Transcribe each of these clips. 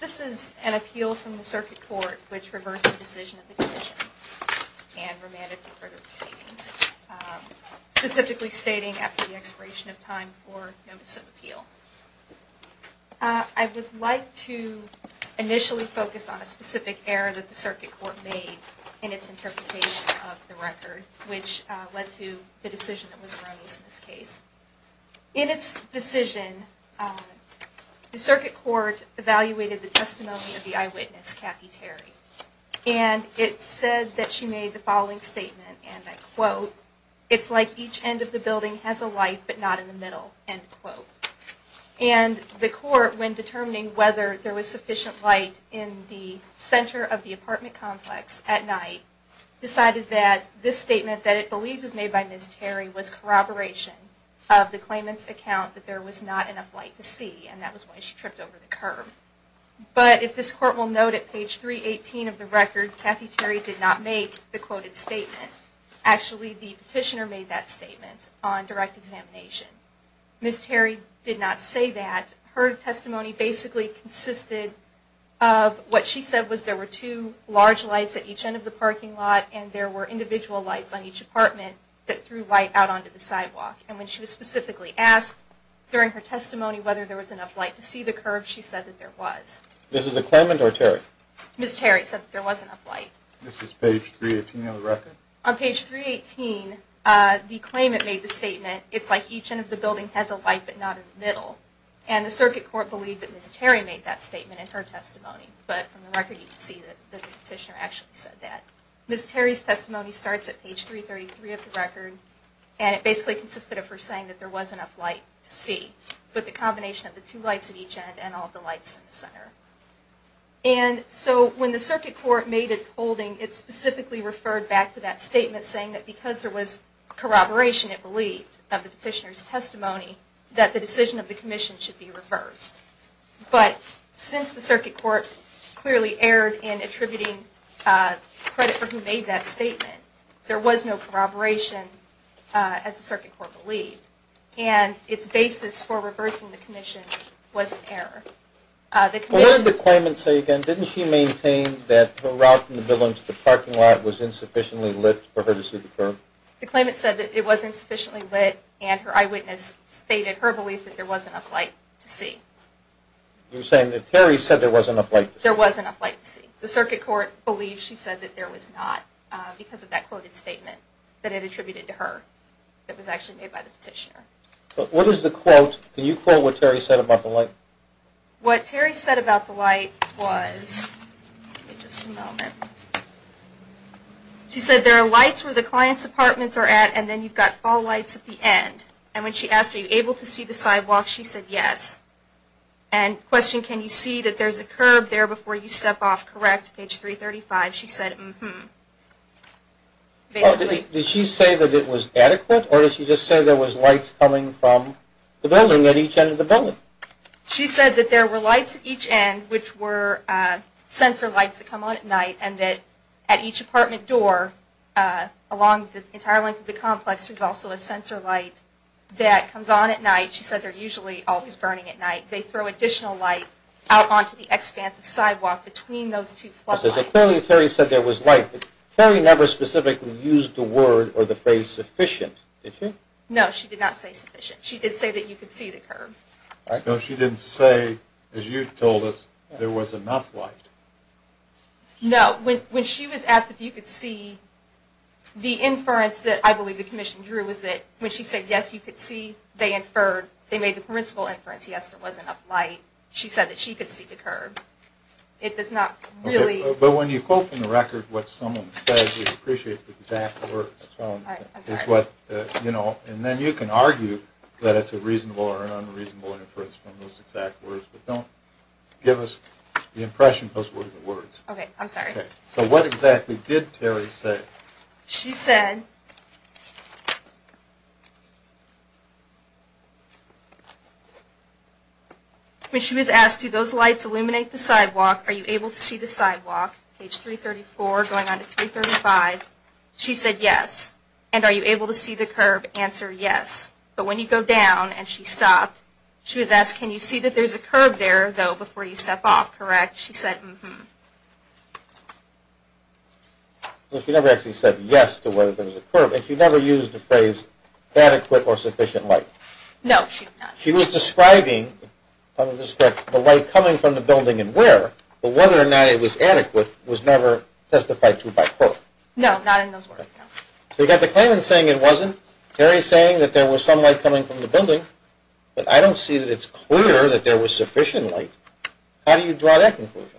This is an appeal from the Circuit Court, which reversed the decision of the Commission and remanded for further proceedings, specifically stating after the expiration of time for notice of appeal. I would like to initially focus on a specific error that the Circuit Court made in its interpretation of the record, which led to the decision that was raised in this case. In its decision, the Circuit Court evaluated the testimony of the eyewitness, Kathy Terry, and it said that she made the following statement, and I quote, It's like each end of the building has a light, but not in the middle, end quote. And the Court, when determining whether there was sufficient light in the center of the apartment complex at night, decided that this statement that it believed was made by Ms. Terry was corroboration of the claimant's account that there was not enough light to see, and that was why she tripped over the curb. But if this Court will note, at page 318 of the record, Kathy Terry did not make the quoted statement. Actually, the petitioner made that statement on direct examination. Ms. Terry did not say that. Her testimony basically consisted of what she said was there were two large lights at each end of the parking lot, and there were individual lights on each apartment that threw light out onto the sidewalk. And when she was specifically asked during her testimony whether there was enough light to see the curb, she said that there was. This is a claimant or Terry? Ms. Terry said that there was enough light. This is page 318 of the record? On page 318, the claimant made the statement, It's like each end of the building has a light, but not in the middle. And the Circuit Court believed that Ms. Terry made that statement in her testimony, but from the record you can see that the petitioner actually said that. Ms. Terry's testimony starts at page 333 of the record, and it basically consisted of her saying that there was enough light to see, but the combination of the two lights at each end and all the lights in the center. And so when the Circuit Court made its holding, it specifically referred back to that statement saying that because there was corroboration, it believed, of the petitioner's testimony, that the decision of the Commission should be reversed. But since the Circuit Court clearly erred in attributing credit for who made that statement, there was no corroboration, as the Circuit Court believed. And its basis for reversing the Commission was an error. What did the claimant say again? Didn't she maintain that her route from the building to the parking lot was insufficiently lit for her to see the curb? The claimant said that it wasn't sufficiently lit, and her eyewitness stated her belief that there wasn't enough light to see. You're saying that Terry said there wasn't enough light to see? There wasn't enough light to see. The Circuit Court believed she said that there was not, because of that quoted statement that it attributed to her, that was actually made by the petitioner. What is the quote? Can you quote what Terry said about the light? What Terry said about the light was, she said there are lights where the client's apartments are at, and then you've got fall lights at the end. And when she asked, are you able to see the sidewalk, she said yes. And the question, can you see that there's a curb there before you step off, correct, page 335. She said, mm-hmm. Did she say that it was adequate, or did she just say there was lights coming from the building, at each end of the building? She said that there were lights at each end, which were sensor lights that come on at night, and that at each apartment door, along the entire length of the complex, there's also a sensor light that comes on at night. She said they're usually always burning at night. They throw additional light out onto the expansive sidewalk between those two floodlights. Clearly Terry said there was light, but Terry never specifically used the word or the phrase sufficient, did she? No, she did not say sufficient. She did say that you could see the curb. So she didn't say, as you told us, there was enough light. No, when she was asked if you could see, the inference that I believe the commission drew was that when she said yes, you could see, they inferred, they made the principal inference, yes, there was enough light. She said that she could see the curb. But when you quote from the record what someone said, you appreciate the exact words. And then you can argue that it's a reasonable or an unreasonable inference from those exact words, but don't give us the impression those were the words. Okay, I'm sorry. So what exactly did Terry say? She said, when she was asked, do those lights illuminate the sidewalk, are you able to see the sidewalk? Page 334 going on to 335. She said yes. And are you able to see the curb? Answer, yes. But when you go down, and she stopped, she was asked, can you see that there's a curb there, though, before you step off, correct? She said, mm-hmm. She never actually said yes to whether there was a curb, and she never used the phrase adequate or sufficient light. No, she did not. She was describing the light coming from the building and where, but whether or not it was adequate was never testified to by her. No, not in those words, no. So you've got the claimant saying it wasn't, Terry saying that there was some light coming from the building, but I don't see that it's clear that there was sufficient light. How do you draw that conclusion?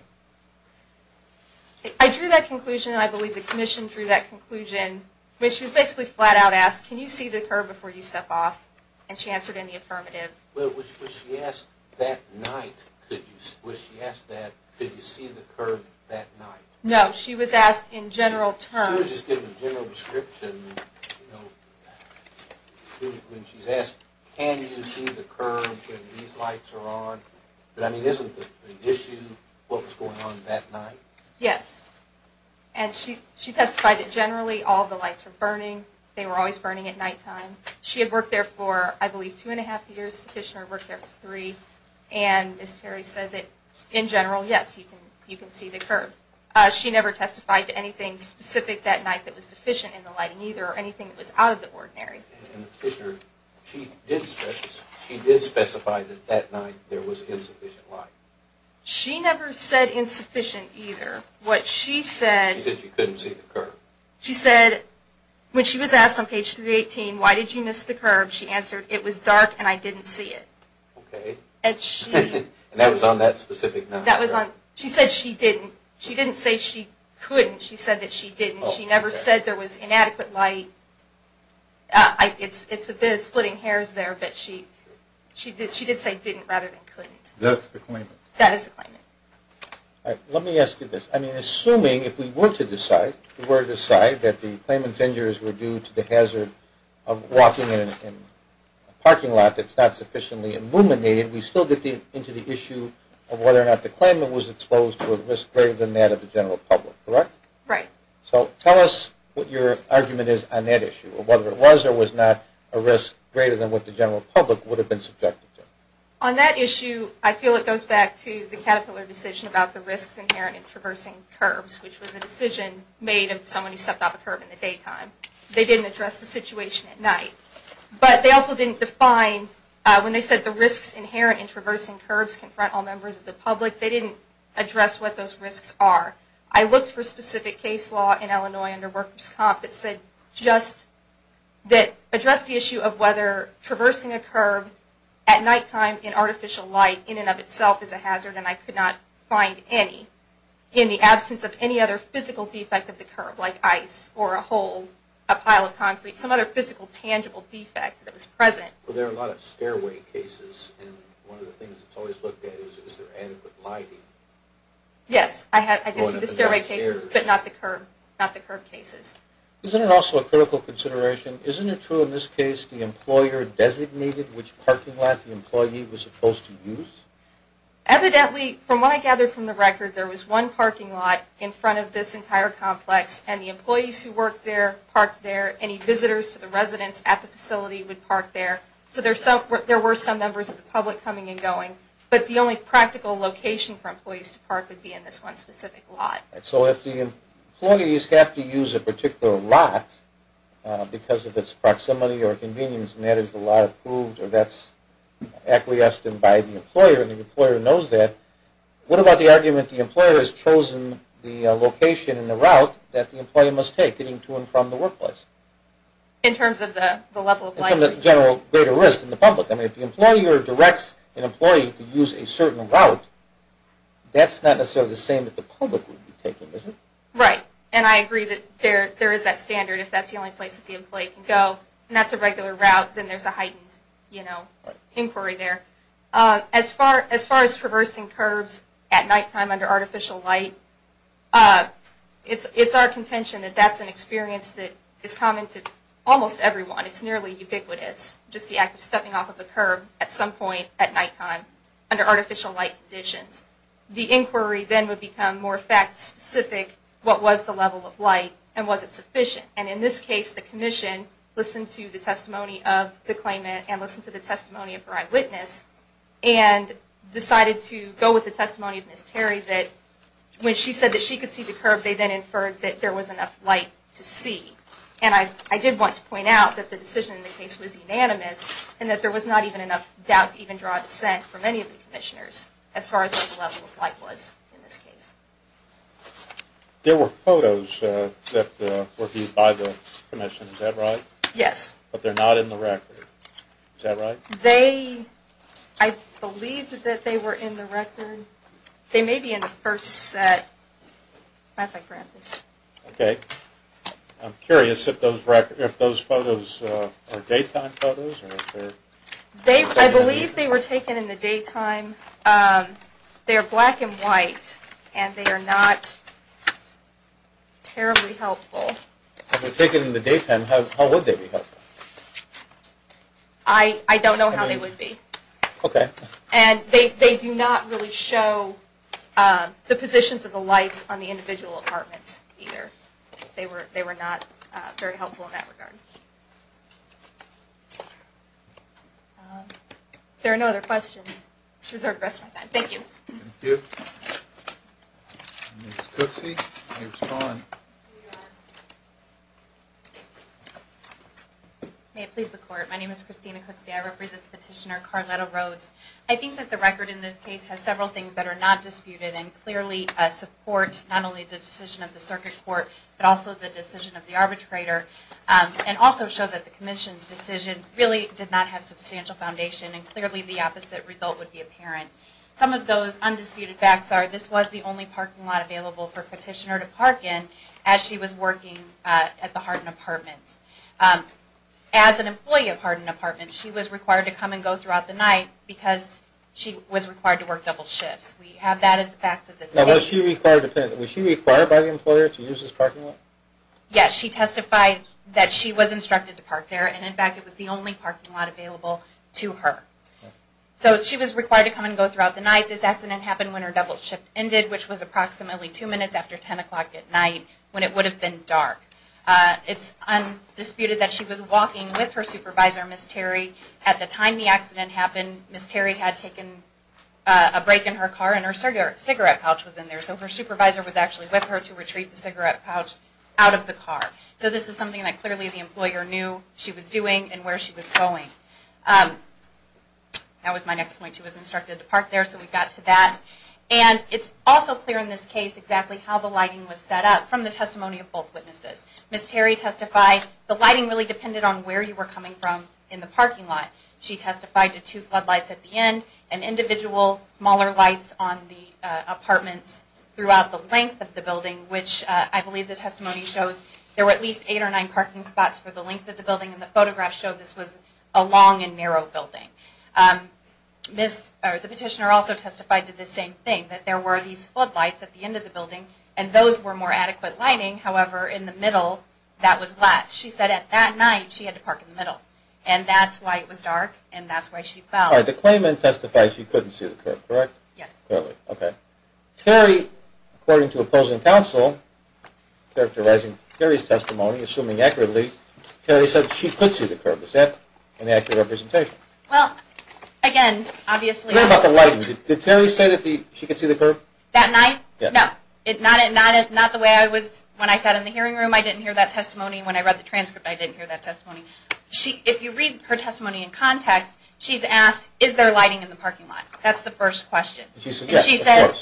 I drew that conclusion, and I believe the commission drew that conclusion, which was basically flat out asked, can you see the curb before you step off? And she answered in the affirmative. Was she asked that night, could you see the curb that night? No, she was asked in general terms. I was just getting a general description when she's asked, can you see the curb when these lights are on? But, I mean, isn't the issue what was going on that night? Yes. And she testified that generally all the lights were burning. They were always burning at nighttime. She had worked there for, I believe, two and a half years. The commissioner had worked there for three. And Ms. Terry said that in general, yes, you can see the curb. She never testified to anything specific that night that was deficient in the lighting either, or anything that was out of the ordinary. And the commissioner, she did specify that that night there was insufficient light. She never said insufficient either. What she said... She said she couldn't see the curb. She said, when she was asked on page 318, why did you miss the curb, she answered, it was dark and I didn't see it. Okay. And that was on that specific night. That was on... She said she didn't. She didn't say she couldn't. She said that she didn't. She never said there was inadequate light. It's a bit of splitting hairs there, but she did say didn't rather than couldn't. That's the claimant. That is the claimant. All right. Let me ask you this. I mean, assuming if we were to decide that the claimant's injuries were due to the hazard of walking in a parking lot that's not sufficiently illuminated, we still get into the issue of whether or not the claimant was exposed to a risk greater than that of the general public, correct? Right. So tell us what your argument is on that issue, whether it was or was not a risk greater than what the general public would have been subjected to. On that issue, I feel it goes back to the Caterpillar decision about the risks inherent in traversing curbs, which was a decision made of someone who stepped off a curb in the daytime. They didn't address the situation at night. But they also didn't define when they said the risks inherent in traversing curbs confront all members of the public. They didn't address what those risks are. I looked for a specific case law in Illinois under workers' comp that said just that addressed the issue of whether traversing a curb at nighttime in artificial light in and of itself is a hazard, and I could not find any, in the absence of any other physical defect of the curb like ice or a hole, a pile of concrete, some other physical tangible defect that was present. Well, there are a lot of stairway cases, and one of the things that's always looked at is is there adequate lighting? Yes, I did see the stairway cases, but not the curb cases. Isn't it also a critical consideration, isn't it true in this case the employer designated which parking lot the employee was supposed to use? Evidently, from what I gather from the record, there was one parking lot in front of this entire complex, and the employees who worked there parked there. Any visitors to the residence at the facility would park there. So there were some members of the public coming and going, but the only practical location for employees to park would be in this one specific lot. So if the employees have to use a particular lot because of its proximity or convenience, and that is the law approved or that's acquiesced in by the employer and the employer knows that, what about the argument that the employer has chosen the location and the route that the employee must take getting to and from the workplace? In terms of the level of lighting? In terms of the general greater risk in the public. I mean, if the employer directs an employee to use a certain route, that's not necessarily the same that the public would be taking, is it? Right, and I agree that there is that standard. If that's the only place that the employee can go and that's a regular route, then there's a heightened inquiry there. As far as traversing curbs at nighttime under artificial light, it's our contention that that's an experience that is common to almost everyone. It's nearly ubiquitous, just the act of stepping off of a curb at some point at nighttime under artificial light conditions. The inquiry then would become more fact-specific. What was the level of light and was it sufficient? And in this case, the commission listened to the testimony of the claimant and listened to the testimony of her eyewitness and decided to go with the testimony of Ms. Terry that when she said that she could see the curb, they then inferred that there was enough light to see. And I did want to point out that the decision in the case was unanimous and that there was not even enough doubt to even draw a dissent from any of the commissioners as far as what the level of light was in this case. There were photos that were viewed by the commission, is that right? Yes. But they're not in the record, is that right? I believe that they were in the record. They may be in the first set. Okay. I'm curious if those photos are daytime photos. I believe they were taken in the daytime. They are black and white and they are not terribly helpful. If they were taken in the daytime, how would they be helpful? I don't know how they would be. Okay. And they do not really show the positions of the lights on the individual apartments either. They were not very helpful in that regard. If there are no other questions, let's reserve the rest of my time. Thank you. Thank you. Ms. Cooksey, you may respond. May it please the Court. My name is Christina Cooksey. I represent Petitioner Carletta Rhodes. I think that the record in this case has several things that are not disputed and clearly support not only the decision of the circuit court but also the decision of the arbitrator and also show that the commission's decision really did not have substantial foundation and clearly the opposite result would be apparent. Some of those undisputed facts are this was the only parking lot available for Petitioner to park in as she was working at the Hardin apartments. As an employee of Hardin apartments, she was required to come and go throughout the night because she was required to work double shifts. We have that as a fact of this case. Was she required by the employer to use this parking lot? She testified that she was instructed to park there and, in fact, it was the only parking lot available to her. So she was required to come and go throughout the night. This accident happened when her double shift ended which was approximately two minutes after 10 o'clock at night when it would have been dark. It's undisputed that she was walking with her supervisor, Ms. Terry. At the time the accident happened, Ms. Terry had taken a break in her car and her cigarette pouch was in there. So her supervisor was actually with her to retrieve the cigarette pouch out of the car. So this is something that clearly the employer knew she was doing and where she was going. That was my next point. She was instructed to park there, so we got to that. And it's also clear in this case exactly how the lighting was set up from the testimony of both witnesses. Ms. Terry testified the lighting really depended on where you were coming from in the parking lot. She testified to two floodlights at the end and individual smaller lights on the apartments throughout the length of the building which I believe the testimony shows there were at least eight or nine parking spots for the length of the building and the photograph showed this was a long and narrow building. The petitioner also testified to the same thing, that there were these floodlights at the end of the building and those were more adequate lighting. However, in the middle that was less. She said at that night she had to park in the middle. And that's why it was dark and that's why she fell. The claimant testified she couldn't see the curb, correct? Yes. Terry, according to opposing counsel, characterizing Terry's testimony, assuming accurately, Terry said she could see the curb. Is that an accurate representation? Well, again, obviously. What about the lighting? Did Terry say that she could see the curb? That night? Yes. No, not the way I was when I sat in the hearing room. I didn't hear that testimony when I read the transcript. I didn't hear that testimony. If you read her testimony in context, she's asked, is there lighting in the parking lot? That's the first question. She said,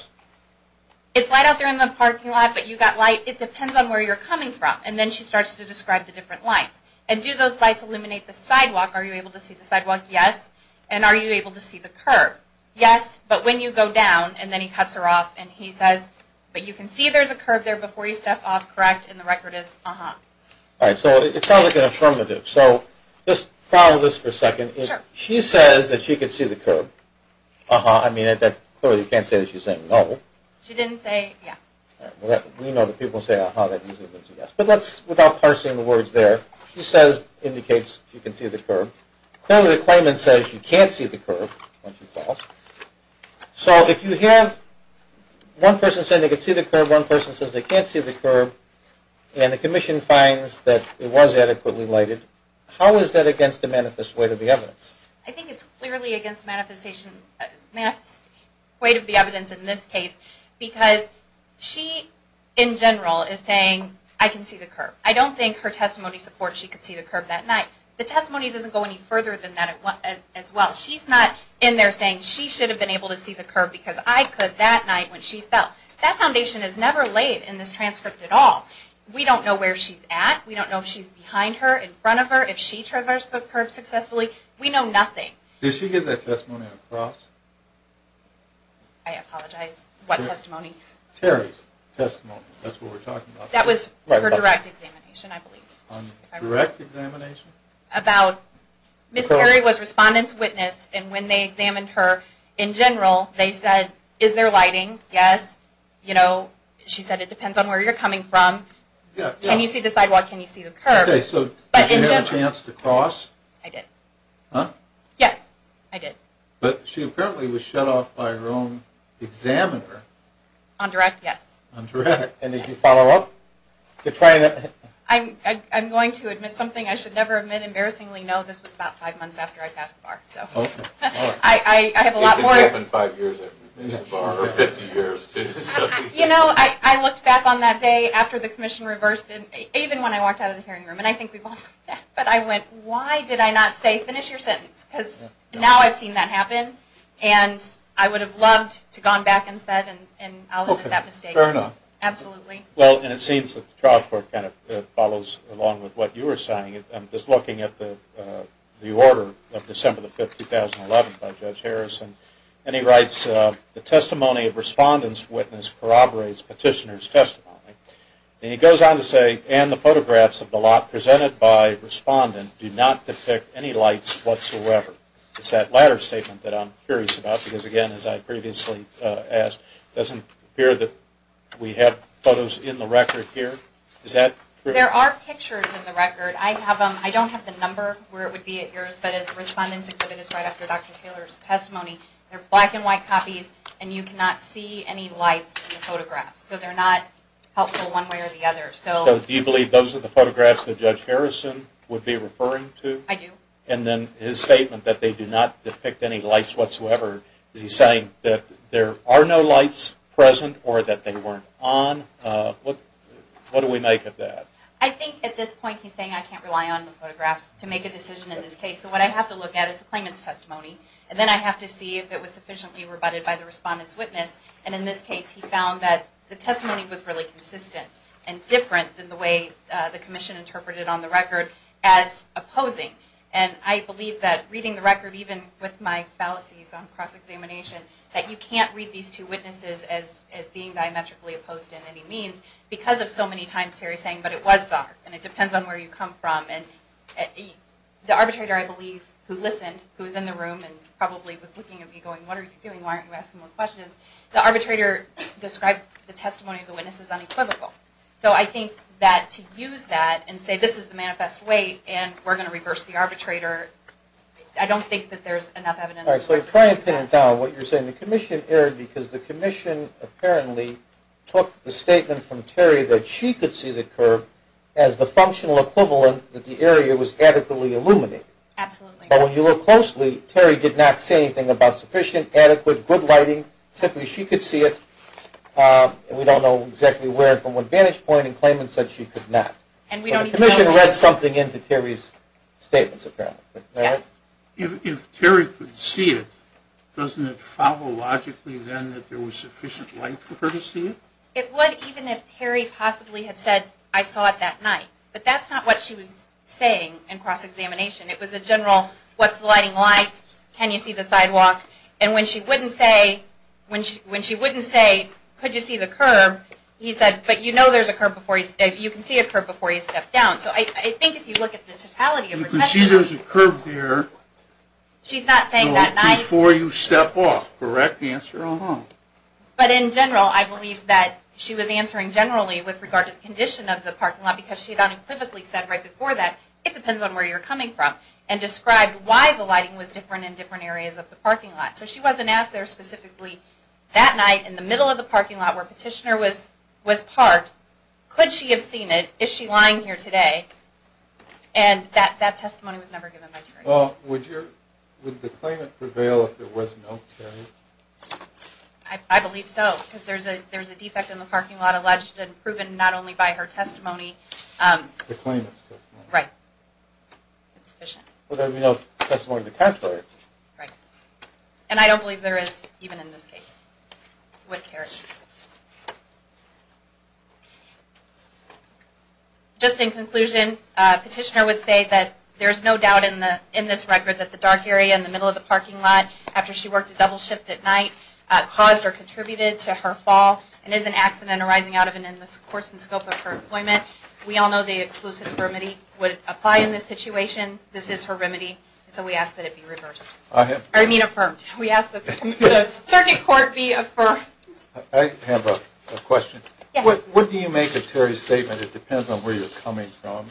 it's light out there in the parking lot but you've got light. It depends on where you're coming from. And then she starts to describe the different lights. And do those lights illuminate the sidewalk? Are you able to see the sidewalk? Yes. And are you able to see the curb? Yes. But when you go down, and then he cuts her off and he says, but you can see there's a curb there before you step off, correct? And the record is, uh-huh. All right, so it sounds like an affirmative. So just follow this for a second. She says that she could see the curb. Uh-huh. I mean, clearly you can't say that she's saying no. She didn't say, yeah. We know that people say, uh-huh, that means it was a yes. But without parsing the words there, she says, indicates she can see the curb. Clearly the claimant says she can't see the curb when she falls. So if you have one person saying they can see the curb, one person says they can't see the curb, and the commission finds that it was adequately lighted, how is that against the manifest weight of the evidence? I think it's clearly against the manifest weight of the evidence in this case because she, in general, is saying I can see the curb. I don't think her testimony supports she could see the curb that night. The testimony doesn't go any further than that as well. She's not in there saying she should have been able to see the curb because I could that night when she fell. That foundation is never laid in this transcript at all. We don't know where she's at. We don't know if she's behind her, in front of her, if she traversed the curb successfully. We know nothing. Did she get that testimony across? I apologize. What testimony? Terry's testimony. That's what we're talking about. That was her direct examination, I believe. Direct examination? About Ms. Terry was respondent's witness, and when they examined her in general, they said is there lighting? Yes. You know, she said it depends on where you're coming from. Can you see the sidewalk? Can you see the curb? Okay, so did you have a chance to cross? I did. Huh? Yes, I did. But she apparently was shut off by her own examiner. On direct, yes. On direct. And did you follow up? I'm going to admit something I should never admit. Embarrassingly, no. This was about five months after I passed the bar. Okay. I have a lot more. It could have been five years after you passed the bar, or 50 years. You know, I looked back on that day after the commission reversed it, even when I walked out of the hearing room, and I think we both did, but I went, why did I not say finish your sentence? Because now I've seen that happen, and I would have loved to have gone back and said, and I'll admit that mistake. Fair enough. Absolutely. Well, and it seems that the trial court kind of follows along with what you were saying. I'm just looking at the order of December the 5th, 2011, by Judge Harrison, and he writes, the testimony of respondent's witness corroborates petitioner's testimony. And he goes on to say, and the photographs of the lot presented by respondent do not depict any lights whatsoever. It's that latter statement that I'm curious about, because, again, as I previously asked, it doesn't appear that we have photos in the record here. Is that true? There are pictures in the record. I don't have the number where it would be at yours, but as respondent's exhibit is right after Dr. Taylor's testimony, they're black and white copies, and you cannot see any lights in the photographs. So they're not helpful one way or the other. So do you believe those are the photographs that Judge Harrison would be referring to? I do. And then his statement that they do not depict any lights whatsoever, is he saying that there are no lights present or that they weren't on? What do we make of that? I think at this point he's saying I can't rely on the photographs to make a decision in this case. So what I have to look at is the claimant's testimony, and then I have to see if it was sufficiently rebutted by the respondent's witness. And in this case he found that the testimony was really consistent and different than the way the commission interpreted on the record as opposing. And I believe that reading the record, even with my fallacies on cross-examination, that you can't read these two witnesses as being diametrically opposed in any means because of so many times Terry's saying, but it was there, and it depends on where you come from. And the arbitrator, I believe, who listened, who was in the room and probably was looking at me going, what are you doing? Why aren't you asking more questions? The arbitrator described the testimony of the witness as unequivocal. So I think that to use that and say this is the manifest way and we're going to reverse the arbitrator, I don't think that there's enough evidence. All right, so try and pin it down, what you're saying. The commission erred because the commission apparently took the statement from Terry that she could see the curve as the functional equivalent that the area was adequately illuminated. Absolutely. But when you look closely, Terry did not say anything about sufficient, adequate, good lighting. Simply she could see it. We don't know exactly where from what vantage point in claimants that she could not. And we don't even know where. But the commission read something into Terry's statements apparently. Yes. If Terry could see it, doesn't it follow logically then that there was sufficient light for her to see it? It would even if Terry possibly had said, I saw it that night. But that's not what she was saying in cross-examination. It was a general, what's the lighting like? Can you see the sidewalk? And when she wouldn't say, could you see the curve? He said, but you know there's a curve before you step. You can see a curve before you step down. So I think if you look at the totality of the question. You can see there's a curve there. She's not saying that night. Before you step off. Correct answer. But in general, I believe that she was answering generally with regard to the condition of the parking lot because she had unequivocally said right before that, it depends on where you're coming from. And described why the lighting was different in different areas of the parking lot. So she wasn't asked there specifically that night in the middle of the parking lot where Petitioner was parked. Could she have seen it? Is she lying here today? And that testimony was never given by Terry. Would the claimant prevail if there was no Terry? I believe so. Because there's a defect in the parking lot alleged and proven not only by her testimony. The claimant's testimony. Right. It's sufficient. Well, there would be no testimony to catch her. Right. And I don't believe there is, even in this case, with Terry. Just in conclusion, Petitioner would say that there's no doubt in this record that the dark area in the middle of the parking lot after she worked a double shift at night caused or contributed to her fall and is an accident arising out of an endless course and scope of her employment. We all know the exclusive remedy would apply in this situation. This is her remedy. So we ask that it be reversed. I mean affirmed. We ask that the circuit court be affirmed. I have a question. Yes. What do you make of Terry's statement, it depends on where you're coming from?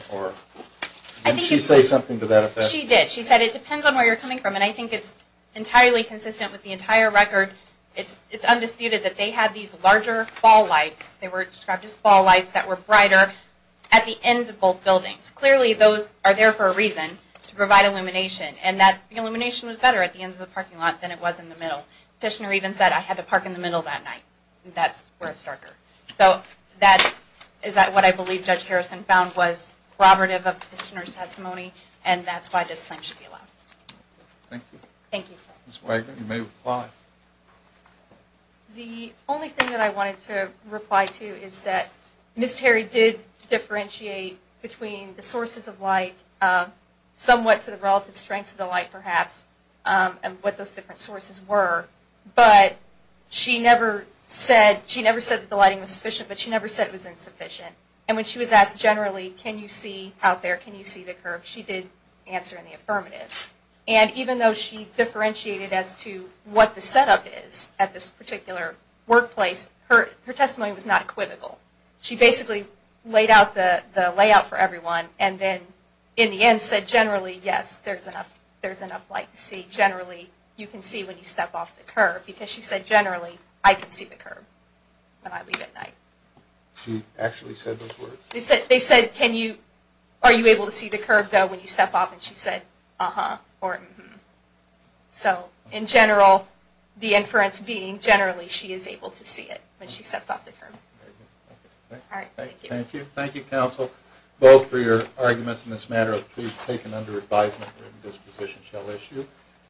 Didn't she say something to that effect? She did. She said it depends on where you're coming from. And I think it's entirely consistent with the entire record. It's undisputed that they had these larger fall lights. They were described as fall lights that were brighter at the ends of both buildings. Clearly those are there for a reason, to provide illumination. And that illumination was better at the ends of the parking lot than it was in the middle. Petitioner even said, I had to park in the middle that night. That's where it's darker. So that is what I believe Judge Harrison found was corroborative of Petitioner's testimony, and that's why this claim should be allowed. Thank you. Thank you. Ms. Wagner, you may reply. The only thing that I wanted to reply to is that Ms. Terry did differentiate between the sources of light, somewhat to the relative strengths of the light perhaps, and what those different sources were. But she never said that the lighting was sufficient, but she never said it was insufficient. And when she was asked generally, can you see out there, can you see the curb, she did answer in the affirmative. And even though she differentiated as to what the setup is at this particular workplace, her testimony was not equivocal. She basically laid out the layout for everyone, and then in the end said generally, yes, there's enough light to see. Generally, you can see when you step off the curb, because she said generally, I can see the curb when I leave at night. She actually said those words. They said, are you able to see the curb, though, when you step off? And she said, uh-huh, or mm-hmm. So in general, the inference being generally she is able to see it when she steps off the curb. All right. Thank you. Thank you, counsel, both for your arguments in this matter. Please take them under advisement. This position shall issue.